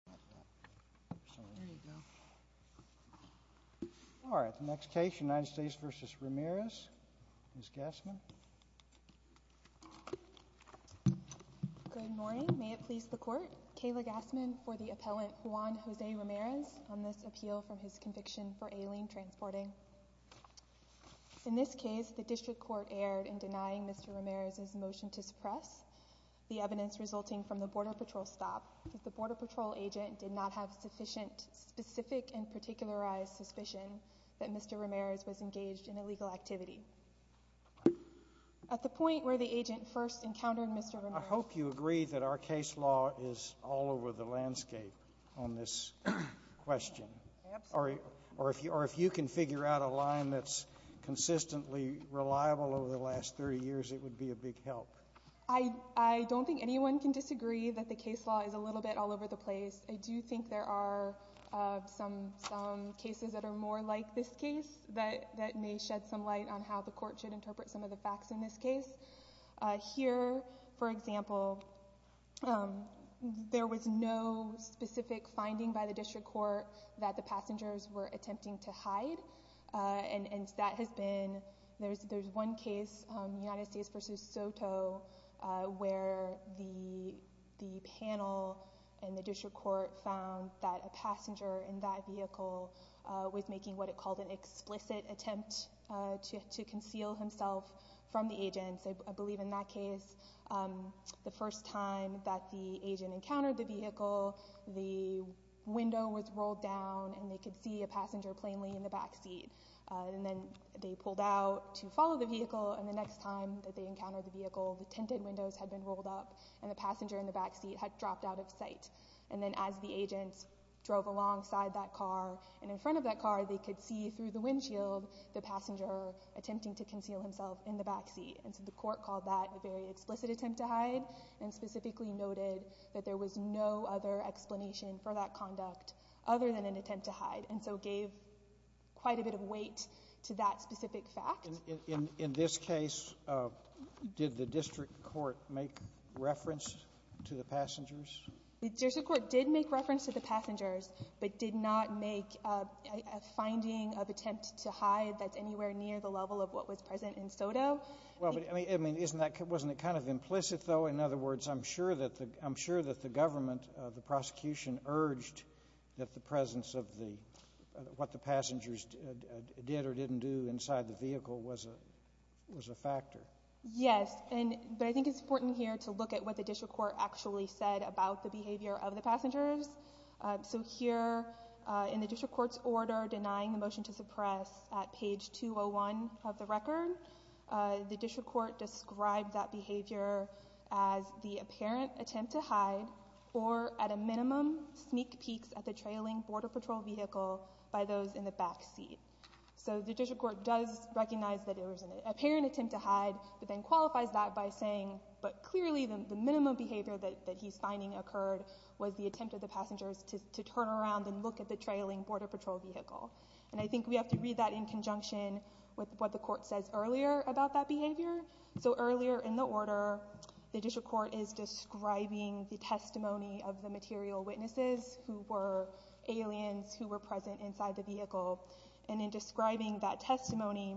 Ms. Gassman. Good morning. May it please the court. Kayla Gassman for the appellant Juan Jose Ramirez on this appeal from his conviction for alien transporting. In this case the district court erred in denying Mr. Ramirez's motion to suppress the evidence resulting from the border patrol agent did not have sufficient specific and particularized suspicion that Mr. Ramirez was engaged in illegal activity. At the point where the agent first encountered Mr. Ramirez. I hope you agree that our case law is all over the landscape on this question. Or if you can figure out a line that's consistently reliable over the last 30 years it would be a big help. I don't think anyone can disagree that the case law is a little bit all over the place. I do think there are some cases that are more like this case that may shed some light on how the court should interpret some of the facts in this case. Here for example there was no specific finding by the district court that the passengers were attempting to hide. And that has been there's one case United States versus Soto where the panel and the district court found that a passenger in that vehicle was making what it called an explicit attempt to conceal himself from the agents. I believe in that case the first time that the agent encountered the vehicle the window was rolled down and they could see a passenger plainly in the back seat. And then they pulled out to follow the vehicle and the next time that they encountered the vehicle the tinted windows had been rolled up and the passenger in the back seat had dropped out of sight. And then as the agent drove alongside that car and in front of that car they could see through the windshield the passenger attempting to conceal himself in the back seat. And so the court called that a very explicit attempt to hide and specifically noted that there was no other explanation for that conduct other than an attempt to hide. And so it gave quite a bit of weight to that specific fact. In this case did the district court make reference to the passengers? The district court did make reference to the passengers but did not make a finding of attempt to hide that's anywhere near the level of what was present in Soto. Well but I mean isn't that wasn't it kind of implicit though in other words I'm sure that the I'm sure it's been urged that the presence of the what the passengers did or didn't do inside the vehicle was a was a factor. Yes and but I think it's important here to look at what the district court actually said about the behavior of the passengers. So here in the district court's order denying the motion to suppress at page 201 of the record the district court described that behavior as the apparent attempt to hide or at a minimum sneak peeks at the trailing border patrol vehicle by those in the back seat. So the district court does recognize that there was an apparent attempt to hide but then qualifies that by saying but clearly the minimum behavior that he's finding occurred was the attempt of the passengers to turn around and look at the trailing border patrol vehicle. And I think we have to read that in conjunction with what the court says earlier about that behavior. So earlier in the order the district court is describing the testimony of the material witnesses who were aliens who were present inside the vehicle and in describing that testimony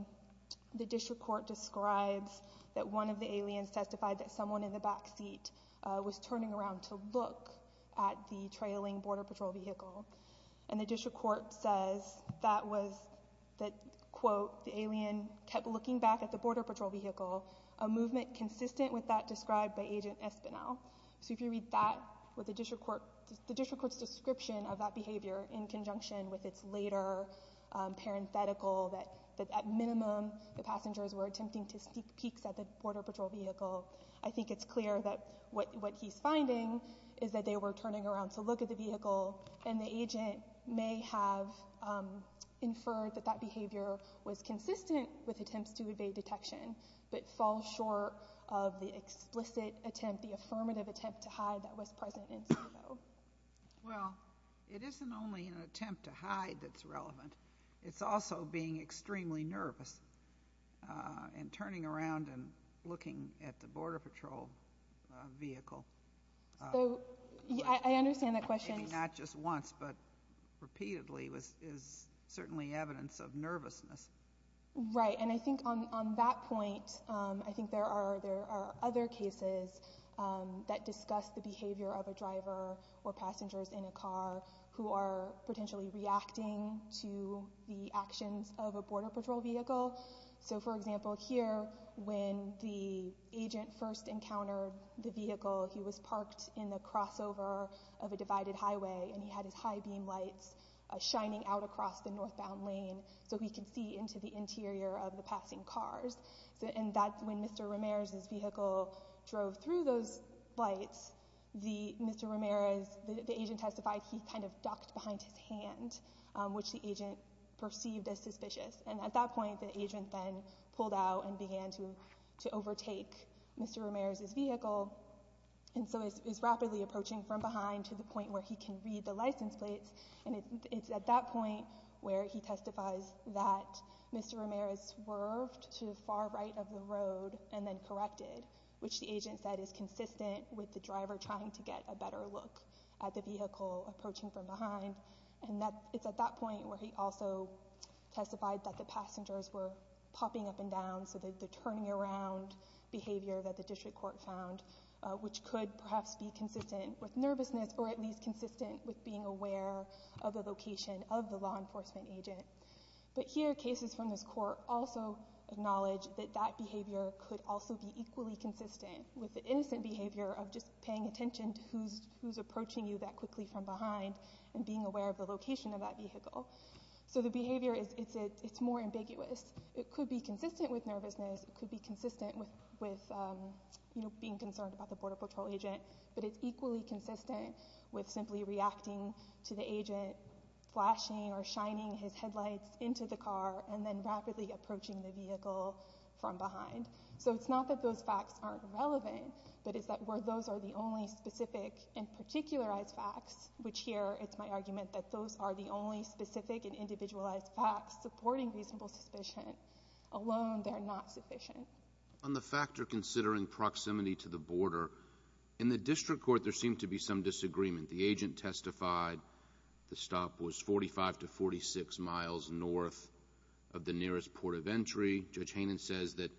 the district court describes that one of the aliens testified that someone in the back seat was turning around to look at the trailing border patrol vehicle and the district court says that was that quote the alien kept looking back at the border patrol vehicle a movement consistent with that described by agent Espinel. So if you read that with the district court the district court's description of that behavior in conjunction with its later parenthetical that at minimum the passengers were attempting to sneak peeks at the border patrol vehicle I think it's clear that what he's finding is that they were turning around to look at the vehicle and the agent may have inferred that that behavior was consistent with attempts to evade detection but fall short of the explicit attempt the affirmative attempt to hide that was present in CBO. Well it isn't only an attempt to hide that's relevant it's also being extremely nervous and turning around and looking at the border patrol vehicle. So I understand that question. Maybe not just once but repeatedly is certainly evidence of nervousness. Right and I think on that point I think there are there are other cases that discuss the behavior of a driver or passengers in a car who are potentially reacting to the actions of a border patrol vehicle. So for example here when the agent first encountered the vehicle he was parked in the crossover of a divided highway and he had his high beam lights shining out across the northbound lane so he could see into the interior of the passing cars and that's when Mr. Ramirez's vehicle drove through those lights the Mr. Ramirez the agent testified he kind of ducked behind his hand which the agent perceived as suspicious and at that point the agent then pulled out and began to overtake Mr. Ramirez's vehicle and so is rapidly approaching from behind to the point where he can read the license plates and it's at that point where he testifies that Mr. Ramirez swerved to the far right of the road and then corrected which the agent said is consistent with the driver trying to get a better look at the vehicle approaching from behind and that it's at that point where he also testified that the passengers were popping up and down so that the turning around behavior that the district court found which could perhaps be nervousness or at least consistent with being aware of the location of the law enforcement agent but here cases from this court also acknowledge that that behavior could also be equally consistent with the innocent behavior of just paying attention to who's approaching you that quickly from behind and being aware of the location of that vehicle so the behavior is it's more ambiguous it could be consistent with nervousness it could be consistent with you know being concerned about the border patrol agent but it's equally consistent with simply reacting to the agent flashing or shining his headlights into the car and then rapidly approaching the vehicle from behind so it's not that those facts aren't relevant but it's that where those are the only specific and particularized facts which here it's my argument that those are the only specific and individualized facts supporting reasonable suspicion alone they're not sufficient on the factor considering proximity to the border in the district court there seemed to be some disagreement the agent testified the stop was 45 to 46 miles north of the nearest port of entry judge Hainan says that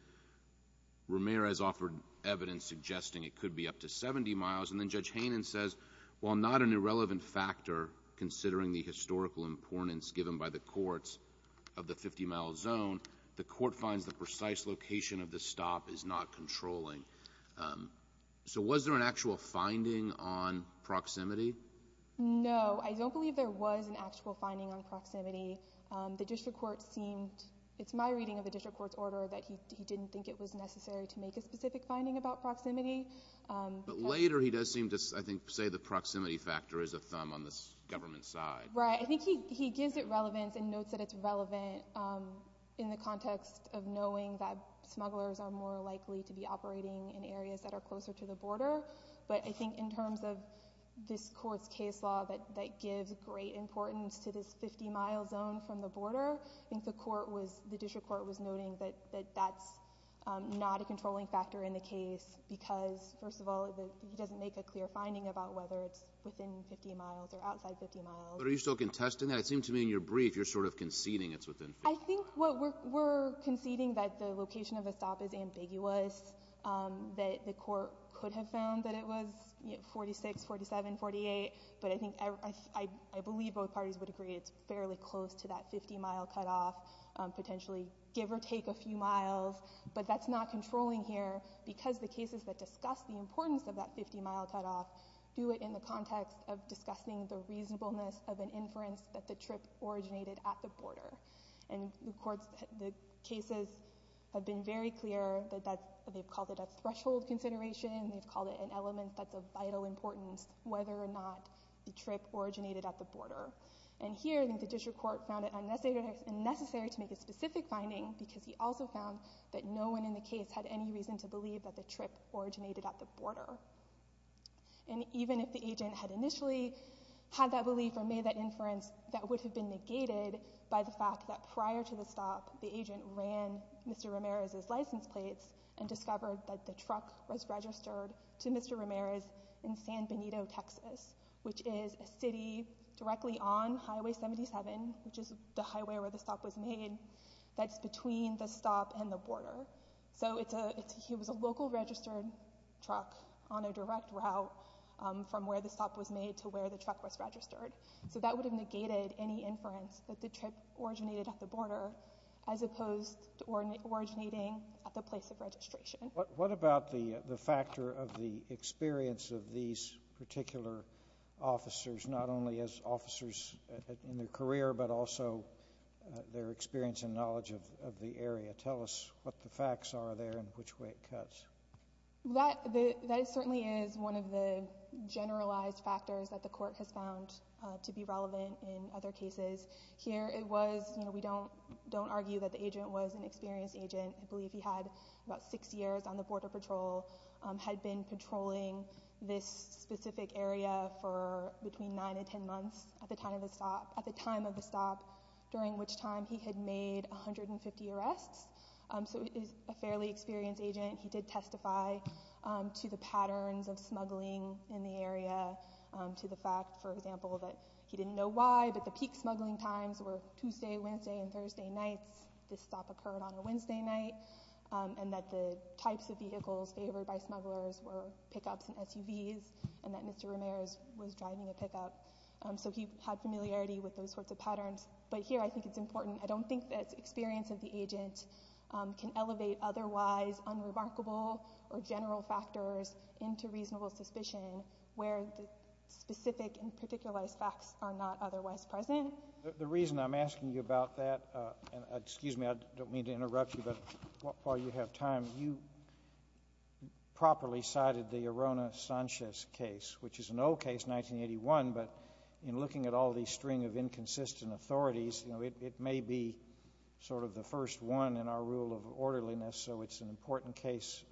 Ramirez offered evidence suggesting it could be up to 70 miles and then judge Hainan says while not an irrelevant factor considering the historical importance given by the courts of the 50 mile zone the court finds the precise location of the stop is not controlling so was there an actual finding on proximity no I don't believe there was an actual finding on proximity the district court seemed it's my reading of the district court's order that he didn't think it was necessary to make a specific finding about proximity but later he does seem to I think say the proximity factor is a thumb on this government side right I think he he gives it relevance and notes that it's relevant in the context of knowing that smugglers are more likely to be operating in areas that are closer to the border but I think in terms of this court's case law that that gives great importance to this 50 mile zone from the border I think the court was the district court was noting that that's not a controlling factor in the case because first of all he doesn't make a clear finding about whether it's within 50 miles or outside 50 miles but are you still contesting that it seemed to me in your brief you're sort of conceding it's within I think what we're conceding that the location of a stop is ambiguous that the court could have found that it was 46 47 48 but I think I believe both parties would agree it's fairly close to that 50 mile cutoff potentially give or take a few miles but that's not controlling here because the cases that discuss the importance of that 50 mile cutoff do it in the context of discussing the reasonableness of an inference that the trip originated at the border and the courts the cases have been very clear that that they've called it a threshold consideration they've called it an element that's of vital importance whether or not the trip originated at the border and here the district court found it unnecessary and necessary to make a specific finding because he also found that no one in the case had any reason to believe that the trip originated at the border and even if the agent had initially had that belief or made that inference that would have been negated by the fact that prior to the stop the agent ran Mr. Ramirez's license plates and discovered that the truck was registered to Mr. Ramirez in San Benito Texas which is a city directly on highway 77 which is the highway where the stop was made that's between the stop and the border so it's a it's he was a local registered truck on a direct route from where the stop was made to where the truck was registered so that would have negated any inference that the trip originated at the border as opposed to originating at the place of registration. What about the the factor of the particular officers not only as officers in their career but also their experience and knowledge of the area tell us what the facts are there and which way it cuts. That that certainly is one of the generalized factors that the court has found to be relevant in other cases here it was you know we don't don't argue that the agent was an experienced agent I believe he had about six years on the border patrol had been patrolling this specific area for between nine and ten months at the time of the stop at the time of the stop during which time he had made 150 arrests so it is a fairly experienced agent he did testify to the patterns of smuggling in the area to the fact for example that he didn't know why but the peak smuggling times were Tuesday Wednesday and types of vehicles favored by smugglers were pickups and SUVs and that mr. Ramirez was driving a pickup so he had familiarity with those sorts of patterns but here I think it's important I don't think that experience of the agent can elevate otherwise unremarkable or general factors into reasonable suspicion where the specific and particularized facts are not otherwise present the reason I'm asking you about that and excuse me I don't mean to interrupt you but while you have time you properly cited the Arona Sanchez case which is an old case 1981 but in looking at all these string of inconsistent authorities you know it may be sort of the first one in our rule of orderliness so it's an important case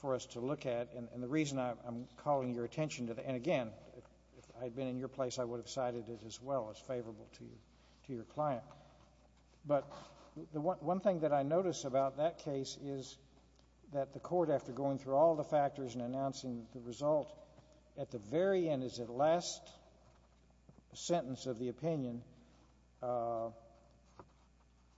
for us to look at and the reason I'm calling your attention to the end again I've been in your place I would have cited it as well as favorable to you to your client but the one thing that I noticed about that case is that the court after going through all the factors and announcing the result at the very end is at last sentence of the opinion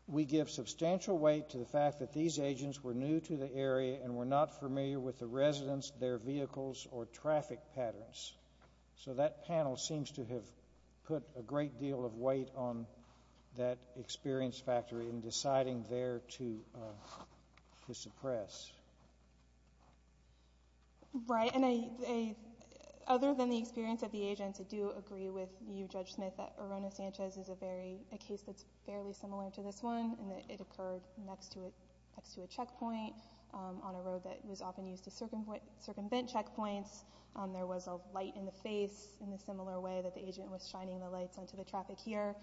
we give substantial weight to the fact that these agents were new to the area and we're not familiar with the residents their vehicles or traffic patterns so that panel seems to have put a great deal of weight on that experience factory and deciding there to suppress right and I other than the experience of the agents I do agree with you judge Smith that Arona Sanchez is a very a case that's fairly similar to this one and that it occurred next to it next to a checkpoint on a road that was often used to circumvent checkpoints there was a light in the face in a similar way that the agent was shining the lights onto the traffic here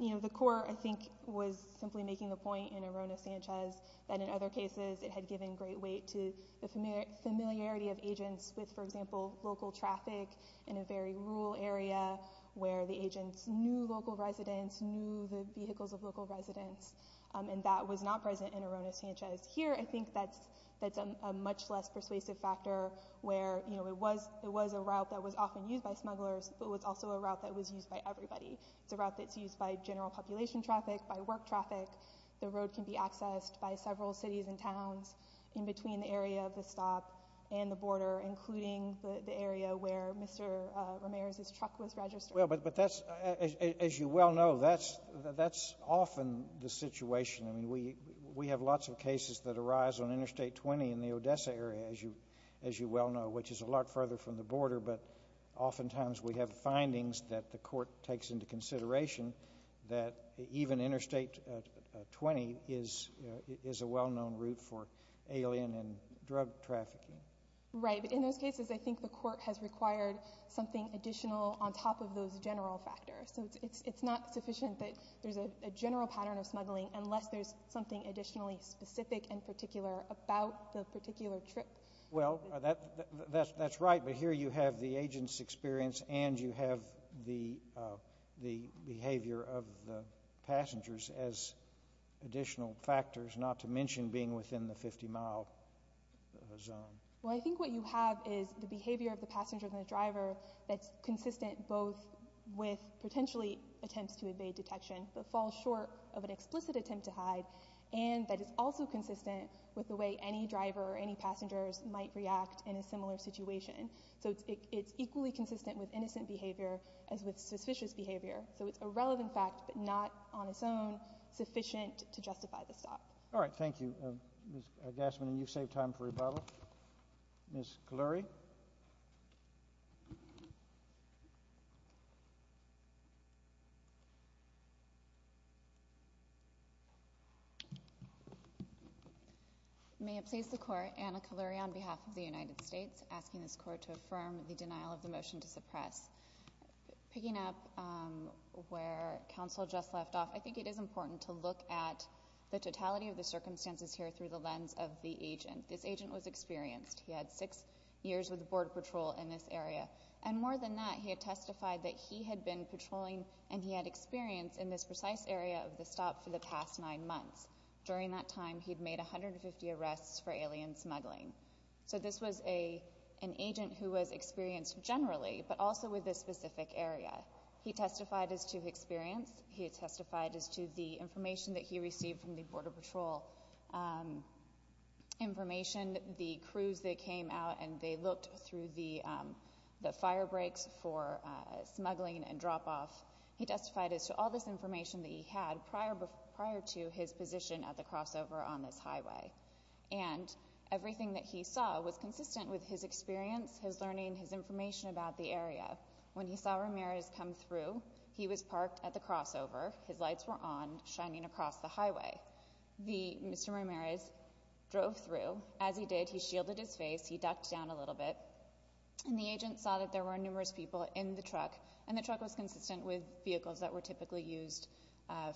you know the court I think was simply making the point in Arona Sanchez that in other cases it had given great weight to the familiar familiarity of agents with for example local traffic in a very rural area where the agents knew local residents knew the vehicles of local residents and that was not present in Arona Sanchez here I think that's that's a much less persuasive factor where you know it was it was a but was also a route that was used by everybody it's a route that's used by general population traffic by work traffic the road can be accessed by several cities and towns in between the area of the stop and the border including the area where mr. Ramirez's truck was registered but but that's as you well know that's that's often the situation I mean we we have lots of cases that arise on interstate 20 in the Odessa area as you as you well know which is a lot further from the border but oftentimes we have findings that the court takes into consideration that even interstate 20 is is a well-known route for alien and drug trafficking right in those cases I think the court has required something additional on top of those general factors so it's it's not sufficient that there's a general pattern of smuggling unless there's something additionally specific and particular about the particular trip well that that's that's right but here you have the agent's experience and you have the the behavior of the passengers as additional factors not to mention being within the 50-mile zone well I think what you have is the behavior of the passenger than a driver that's consistent both with potentially attempts to evade detection but fall short of an explicit attempt to hide and that is also consistent with the way any driver or any passengers might react in a similar situation so it's equally consistent with innocent behavior as with suspicious behavior so it's a relevant fact but not on its own sufficient to justify the stop all right thank you I guess when you save time for rebuttal miss glory may it please the court and a calorie on behalf of the United States asking this court to affirm the denial of the motion to suppress picking up where counsel just left off I think it is important to look at the totality of the circumstances here through the lens of the agent this agent was experienced he had six years with the Border Patrol in this area and more than that he had testified that he had been patrolling and he had experience in this precise area of the stop for the past nine months during that time he'd made a hundred and fifty arrests for alien smuggling so this was a an agent who was experienced generally but also with this specific area he testified as to experience he testified as to the information that he received from the Border Patrol information the crews that came out and they looked through the the fire breaks for smuggling and drop-off he testified as to all this information that he had prior prior to his position at the crossover on this highway and everything that he saw was consistent with his experience his learning his information about the area when he saw Ramirez come through he was parked at the crossover his lights were on shining across the highway the mr. Ramirez drove through as he did he shielded his face he ducked down a little bit and the agent saw that there were numerous people in the truck and the truck was consistent with vehicles that were typically used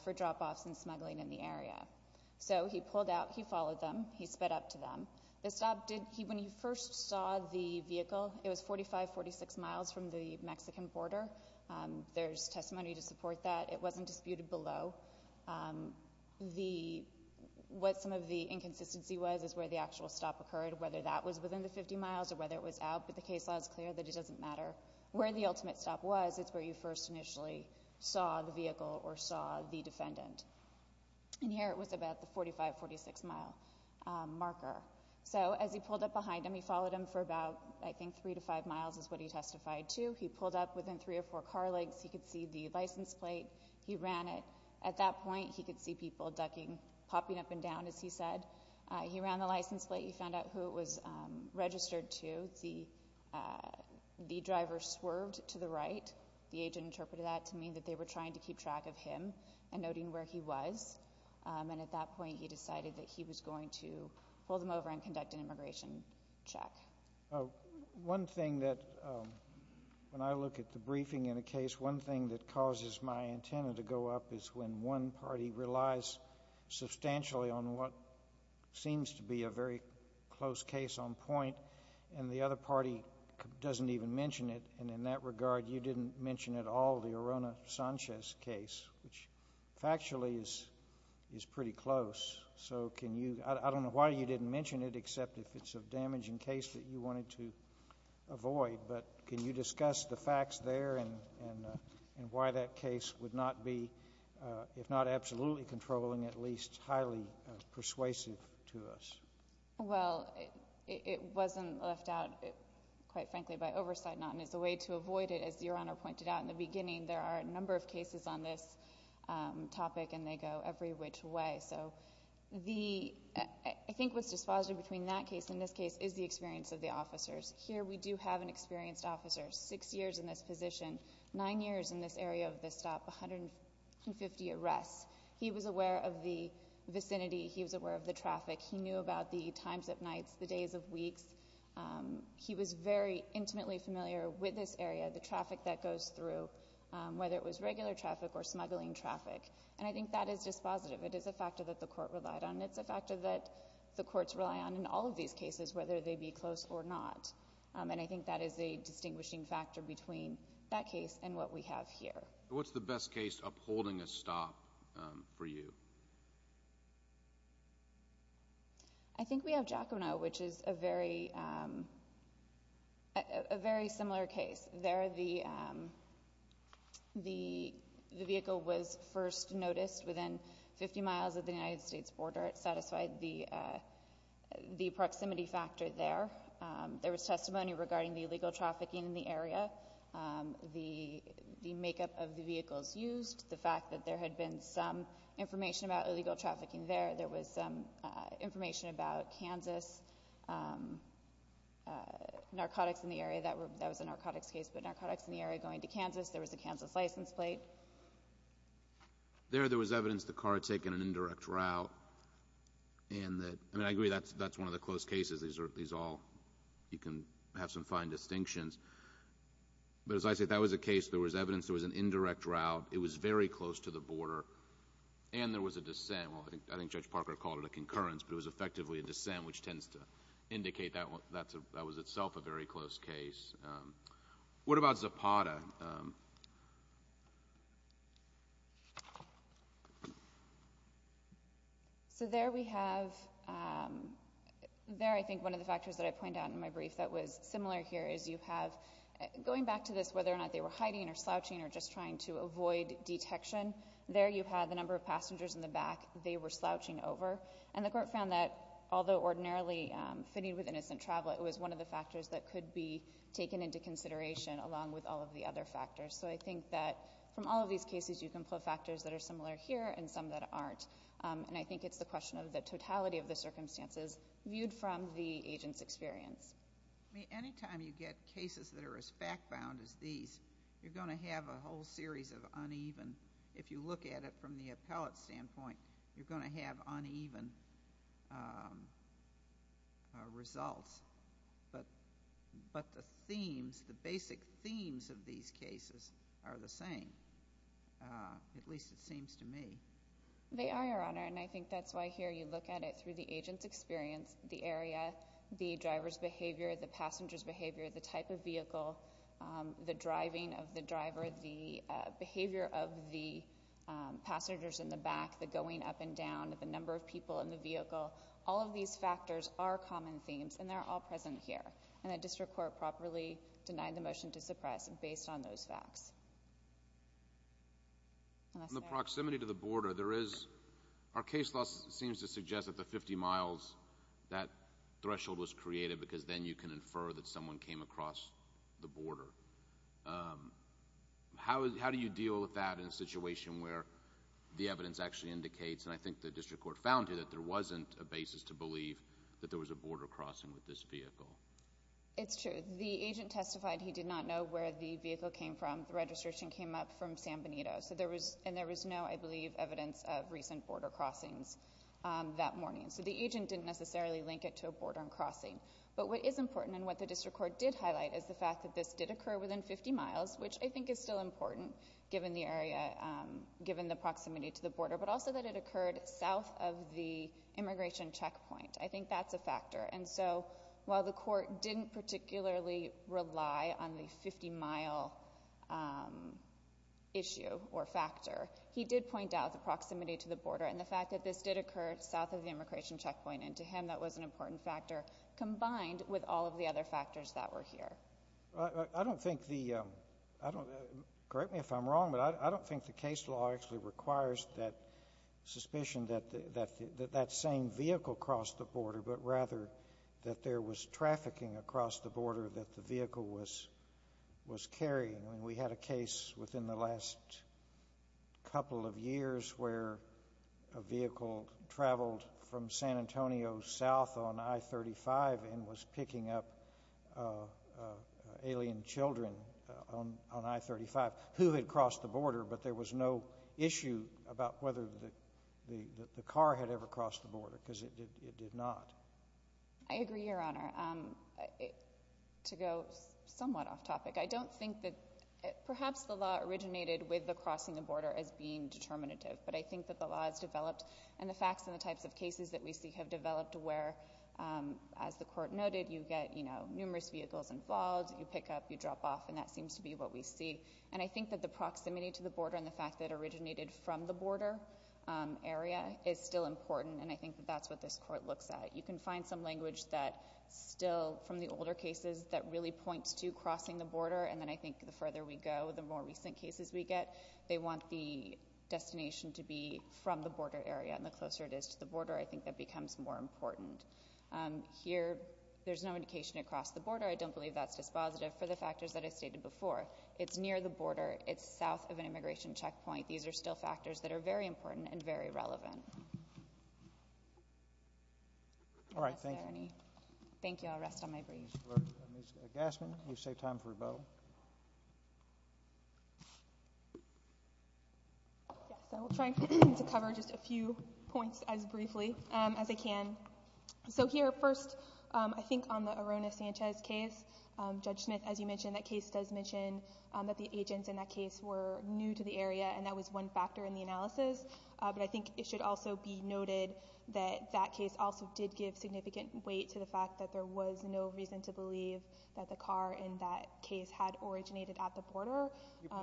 for drop-offs and smuggling in the area so he pulled out he followed them he sped up to them the stop did he when he first saw the vehicle it was 45 46 miles from the Mexican border there's testimony to support that it wasn't disputed below the what some of the inconsistency was is where the actual stop occurred whether that was within the 50 miles or whether it was out but the case law is clear that it doesn't matter where the ultimate stop was it's where you first initially saw the vehicle or saw the defendant and here it was about the 45 46 mile marker so as he pulled up behind him he followed him for about I think three to five miles is what he license plate he ran it at that point he could see people ducking popping up and down as he said he ran the license plate he found out who it was registered to see the driver swerved to the right the agent interpreted that to mean that they were trying to keep track of him and noting where he was and at that point he decided that he was going to pull them over and conduct an immigration check one thing that when I look at the briefing in a case one thing that causes my antenna to go up is when one party relies substantially on what seems to be a very close case on point and the other party doesn't even mention it and in that regard you didn't mention at all the Arona Sanchez case which factually is is pretty close so can you I don't know why you didn't mention it except if it's a damaging case that you wanted to avoid but can you discuss the facts there and and why that case would not be if not absolutely controlling at least highly persuasive to us well it wasn't left out quite frankly by oversight not and it's a way to avoid it as your honor pointed out in the beginning there are a number of cases on this topic and they go every which way so the I think what's dispositive between that case in this case is the experience of the officers here we do have an experienced officer six years in this position nine years in this area of this stop 150 arrests he was aware of the vicinity he was aware of the traffic he knew about the times of nights the days of weeks he was very intimately familiar with this area the traffic that goes through whether it was regular traffic or smuggling traffic and I think that is dispositive it is a factor that the court relied on it's a factor that the courts rely on in all of these cases whether they be close or not and I think that is a distinguishing factor between that case and what we have here what's the best case upholding a stop for you I think we have Giacomo which is a very a very border it satisfied the the proximity factor there there was testimony regarding the illegal trafficking in the area the the makeup of the vehicles used the fact that there had been some information about illegal trafficking there there was information about Kansas narcotics in the area that were that was a narcotics case but narcotics in the area going to Kansas there was a Kansas license plate there there was evidence the car had taken an indirect route and that I mean I agree that's that's one of the close cases these are these all you can have some fine distinctions but as I said that was a case there was evidence there was an indirect route it was very close to the border and there was a dissent well I think I think judge Parker called it a concurrence but it was effectively a dissent which tends to indicate that one that's a that was itself a so there we have there I think one of the factors that I point out in my brief that was similar here is you have going back to this whether or not they were hiding or slouching or just trying to avoid detection there you had the number of passengers in the back they were slouching over and the court found that although ordinarily fitting with innocent travel it was one of the factors that could be of the other factors so I think that from all of these cases you can pull factors that are similar here and some that aren't and I think it's the question of the totality of the circumstances viewed from the agent's experience I mean anytime you get cases that are as fact-bound as these you're going to have a whole series of uneven if you look at it from the appellate standpoint you're going to have uneven results but but the themes the basic themes of these cases are the same at least it seems to me they are your honor and I think that's why here you look at it through the agents experience the area the drivers behavior the passengers behavior the type of vehicle the up-and-down of the number of people in the vehicle all of these factors are common themes and they're all present here and a district court properly denied the motion to suppress and based on those facts the proximity to the border there is our case loss seems to suggest that the 50 miles that threshold was created because then you can infer that someone came across the border how do you deal with that in a situation where the evidence actually indicates and I think the district court found here that there wasn't a basis to believe that there was a border crossing with this vehicle it's true the agent testified he did not know where the vehicle came from the registration came up from San Benito so there was and there was no I believe evidence of recent border crossings that morning so the agent didn't necessarily link it to a border and crossing but what is important and what the district court did highlight is the fact that this did occur within 50 miles which I think is still important given the area given the proximity to the border but also that it occurred south of the immigration checkpoint I think that's a factor and so while the court didn't particularly rely on the 50 mile issue or factor he did point out the proximity to the border and the fact that this did occur south of the immigration checkpoint and to him that was an important factor combined with all of the other factors that were here I don't think the I don't correct me if I'm wrong but I don't think the case law actually requires that suspicion that that that same vehicle crossed the border but rather that there was trafficking across the border that the vehicle was was carrying we had a case within the last couple of years where a vehicle traveled from San Antonio south on I-35 and was picking up alien children on I-35 who had crossed the border but there was no issue about whether the car had ever crossed the border because it did not. I agree your honor to go somewhat off topic I don't think that perhaps the law originated with the crossing the border as being determinative but I think that the law has developed and the facts and the types of cases that we see have developed where as the court noted you get you know numerous vehicles involved you pick up you drop off and that seems to be what we see and I think that the proximity to the border and the fact that originated from the border area is still important and I think that's what this court looks at you can find some language that still from the older cases that really points to crossing the border and then I think the further we go the more recent cases we get they want the destination to be from the border area and the closer it is to the border I think that becomes more important. Here there's no indication it crossed the border I don't believe that's dispositive for the factors that I stated before. It's near the border it's south of an immigration checkpoint these are still factors that are very important and very relevant. All right thank you. Thank you I'll rest on my breath. Ms. Gassman you've saved time for rebuttal. Yes I will try to cover just a few points as briefly as I can. So here first I think on the Arona Sanchez case Judge Smith as you mentioned that case does mention that the agents in that case were new to the area and that was one factor in the analysis but I think it should also be noted that that case also did give significant weight to the fact that there was no reason to believe that the car in that case had originated at the border.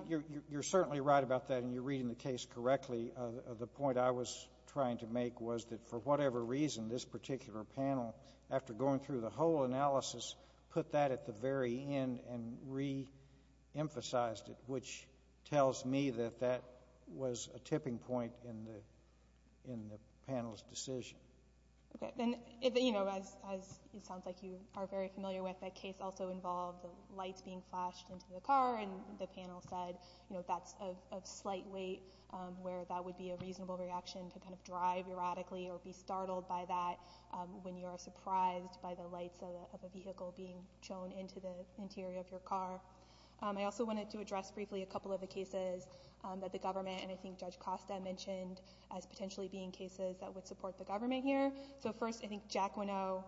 You're certainly right about that and you're reading the case correctly. The point I was trying to make was that for whatever reason this particular panel after going through the whole analysis put that at the very end and re-emphasized it which tells me that that was a tipping point in the panel's decision. Okay and you know as it sounds like you are very familiar with that case also involved the lights being flashed into the car and the panel said you know that's a slight weight where that would be a reasonable reaction to kind of drive erratically or be startled by that when you are surprised by the lights of a vehicle being shown into the interior of your car. I also wanted to address briefly a couple of the cases that the government and I think Judge Costa mentioned as potentially being cases that would support the government here. So first I think Jack Winnow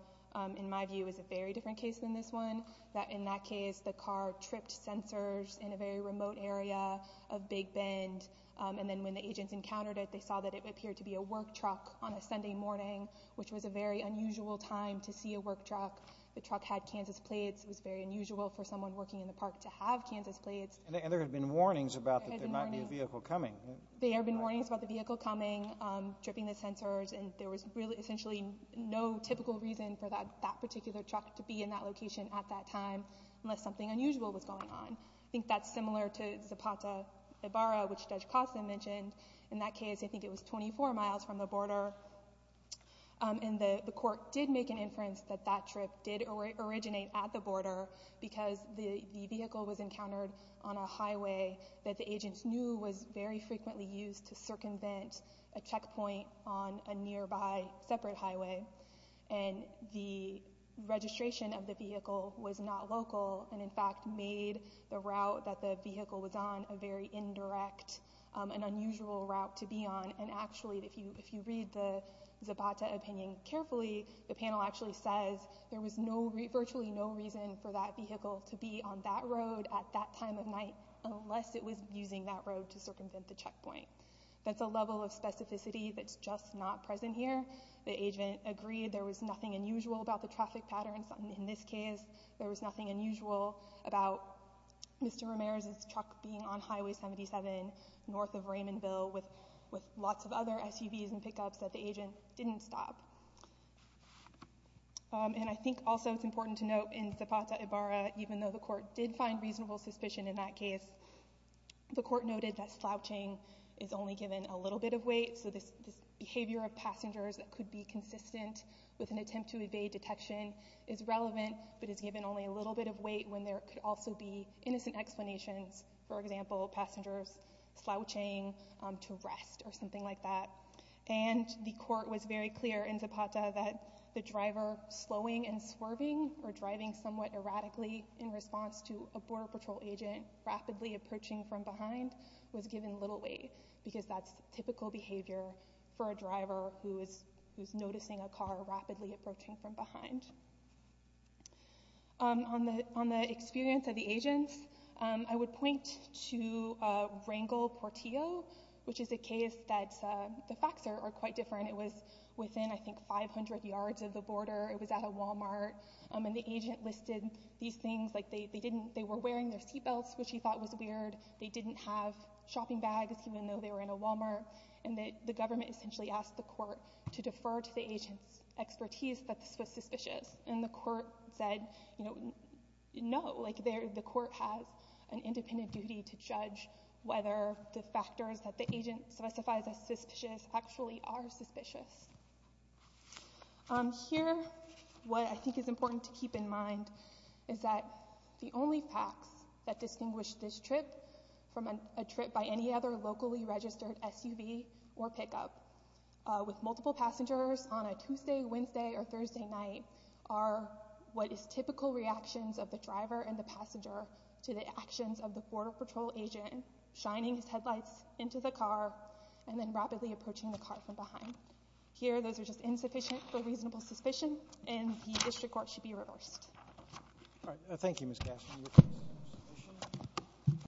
in my view is a very different case than this one that in that case the car tripped sensors in a very remote area of Big Bend and then when the agents encountered it they saw that it appeared to be a work truck on a Sunday morning which was a very unusual time to see a work truck. The truck had Kansas plates. It was very unusual for someone working in the park to have Kansas plates. And there had been warnings about that there might be a vehicle coming. There had been warnings about the vehicle coming, tripping the sensors and there was really essentially no typical reason for that particular truck to be in that location at that time unless something unusual was going on. I think that's similar to Zapata-Ibarra which Judge Costa mentioned. In that case I think it was 24 miles from the border and the court did make an inference that that trip did originate at the border because the vehicle was encountered on a highway that the agents knew was very frequently used to circumvent a checkpoint on a nearby separate highway and the registration of the vehicle was not local and in fact made the route that the vehicle was on a very indirect, an unusual route to be on and actually if you read the Zapata opinion carefully the panel actually says there was virtually no reason for that vehicle to be on that road at that time of night unless it was using that road to circumvent the checkpoint. That's a level of specificity that's just not present here. The agent agreed there was nothing unusual about the traffic patterns in this case. There was nothing unusual about Mr. Ramirez's truck being on Highway 77 north of Raymondville with lots of other SUVs and pickups that the agent didn't stop. And I think also it's important to note in Zapata-Ibarra even though the court did find reasonable suspicion in that case, the court noted that slouching is only given a little bit of weight so this behavior of passengers that could be consistent with an attempt to evade detection is relevant but is given only a little bit of weight when there could also be innocent explanations, for example passengers slouching to rest or something like that. And the court was very clear in Zapata that the driver slowing and swerving or driving somewhat erratically in response to a Border Patrol agent rapidly approaching from behind was given little weight because that's typical behavior for a driver who is noticing a car rapidly approaching from behind. On the experience of the agents, I would point to Rangel-Portillo which is a case that the facts are quite different. It was within I think 500 yards of the border. It was at a Walmart and the agent listed these things like they were wearing their seatbelts which he thought was weird. They didn't have shopping bags even though they were in a Walmart and the government essentially asked the court to defer to the agent's expertise that this was suspicious and the court said no, like the court has an independent duty to judge whether the factors that the agent specifies as suspicious actually are suspicious. Here what I think is important to keep in mind is that the only facts that distinguish this trip from a trip by any other locally registered SUV or pickup with multiple passengers on a Tuesday, Wednesday or Thursday night are what is typical reactions of the driver and the passenger to the actions of the Border Patrol agent shining his headlights into the car and then rapidly approaching the car from behind. Here those are just insufficient for reasonable suspicion and the district court should be reversed. All right. Thank you, Ms.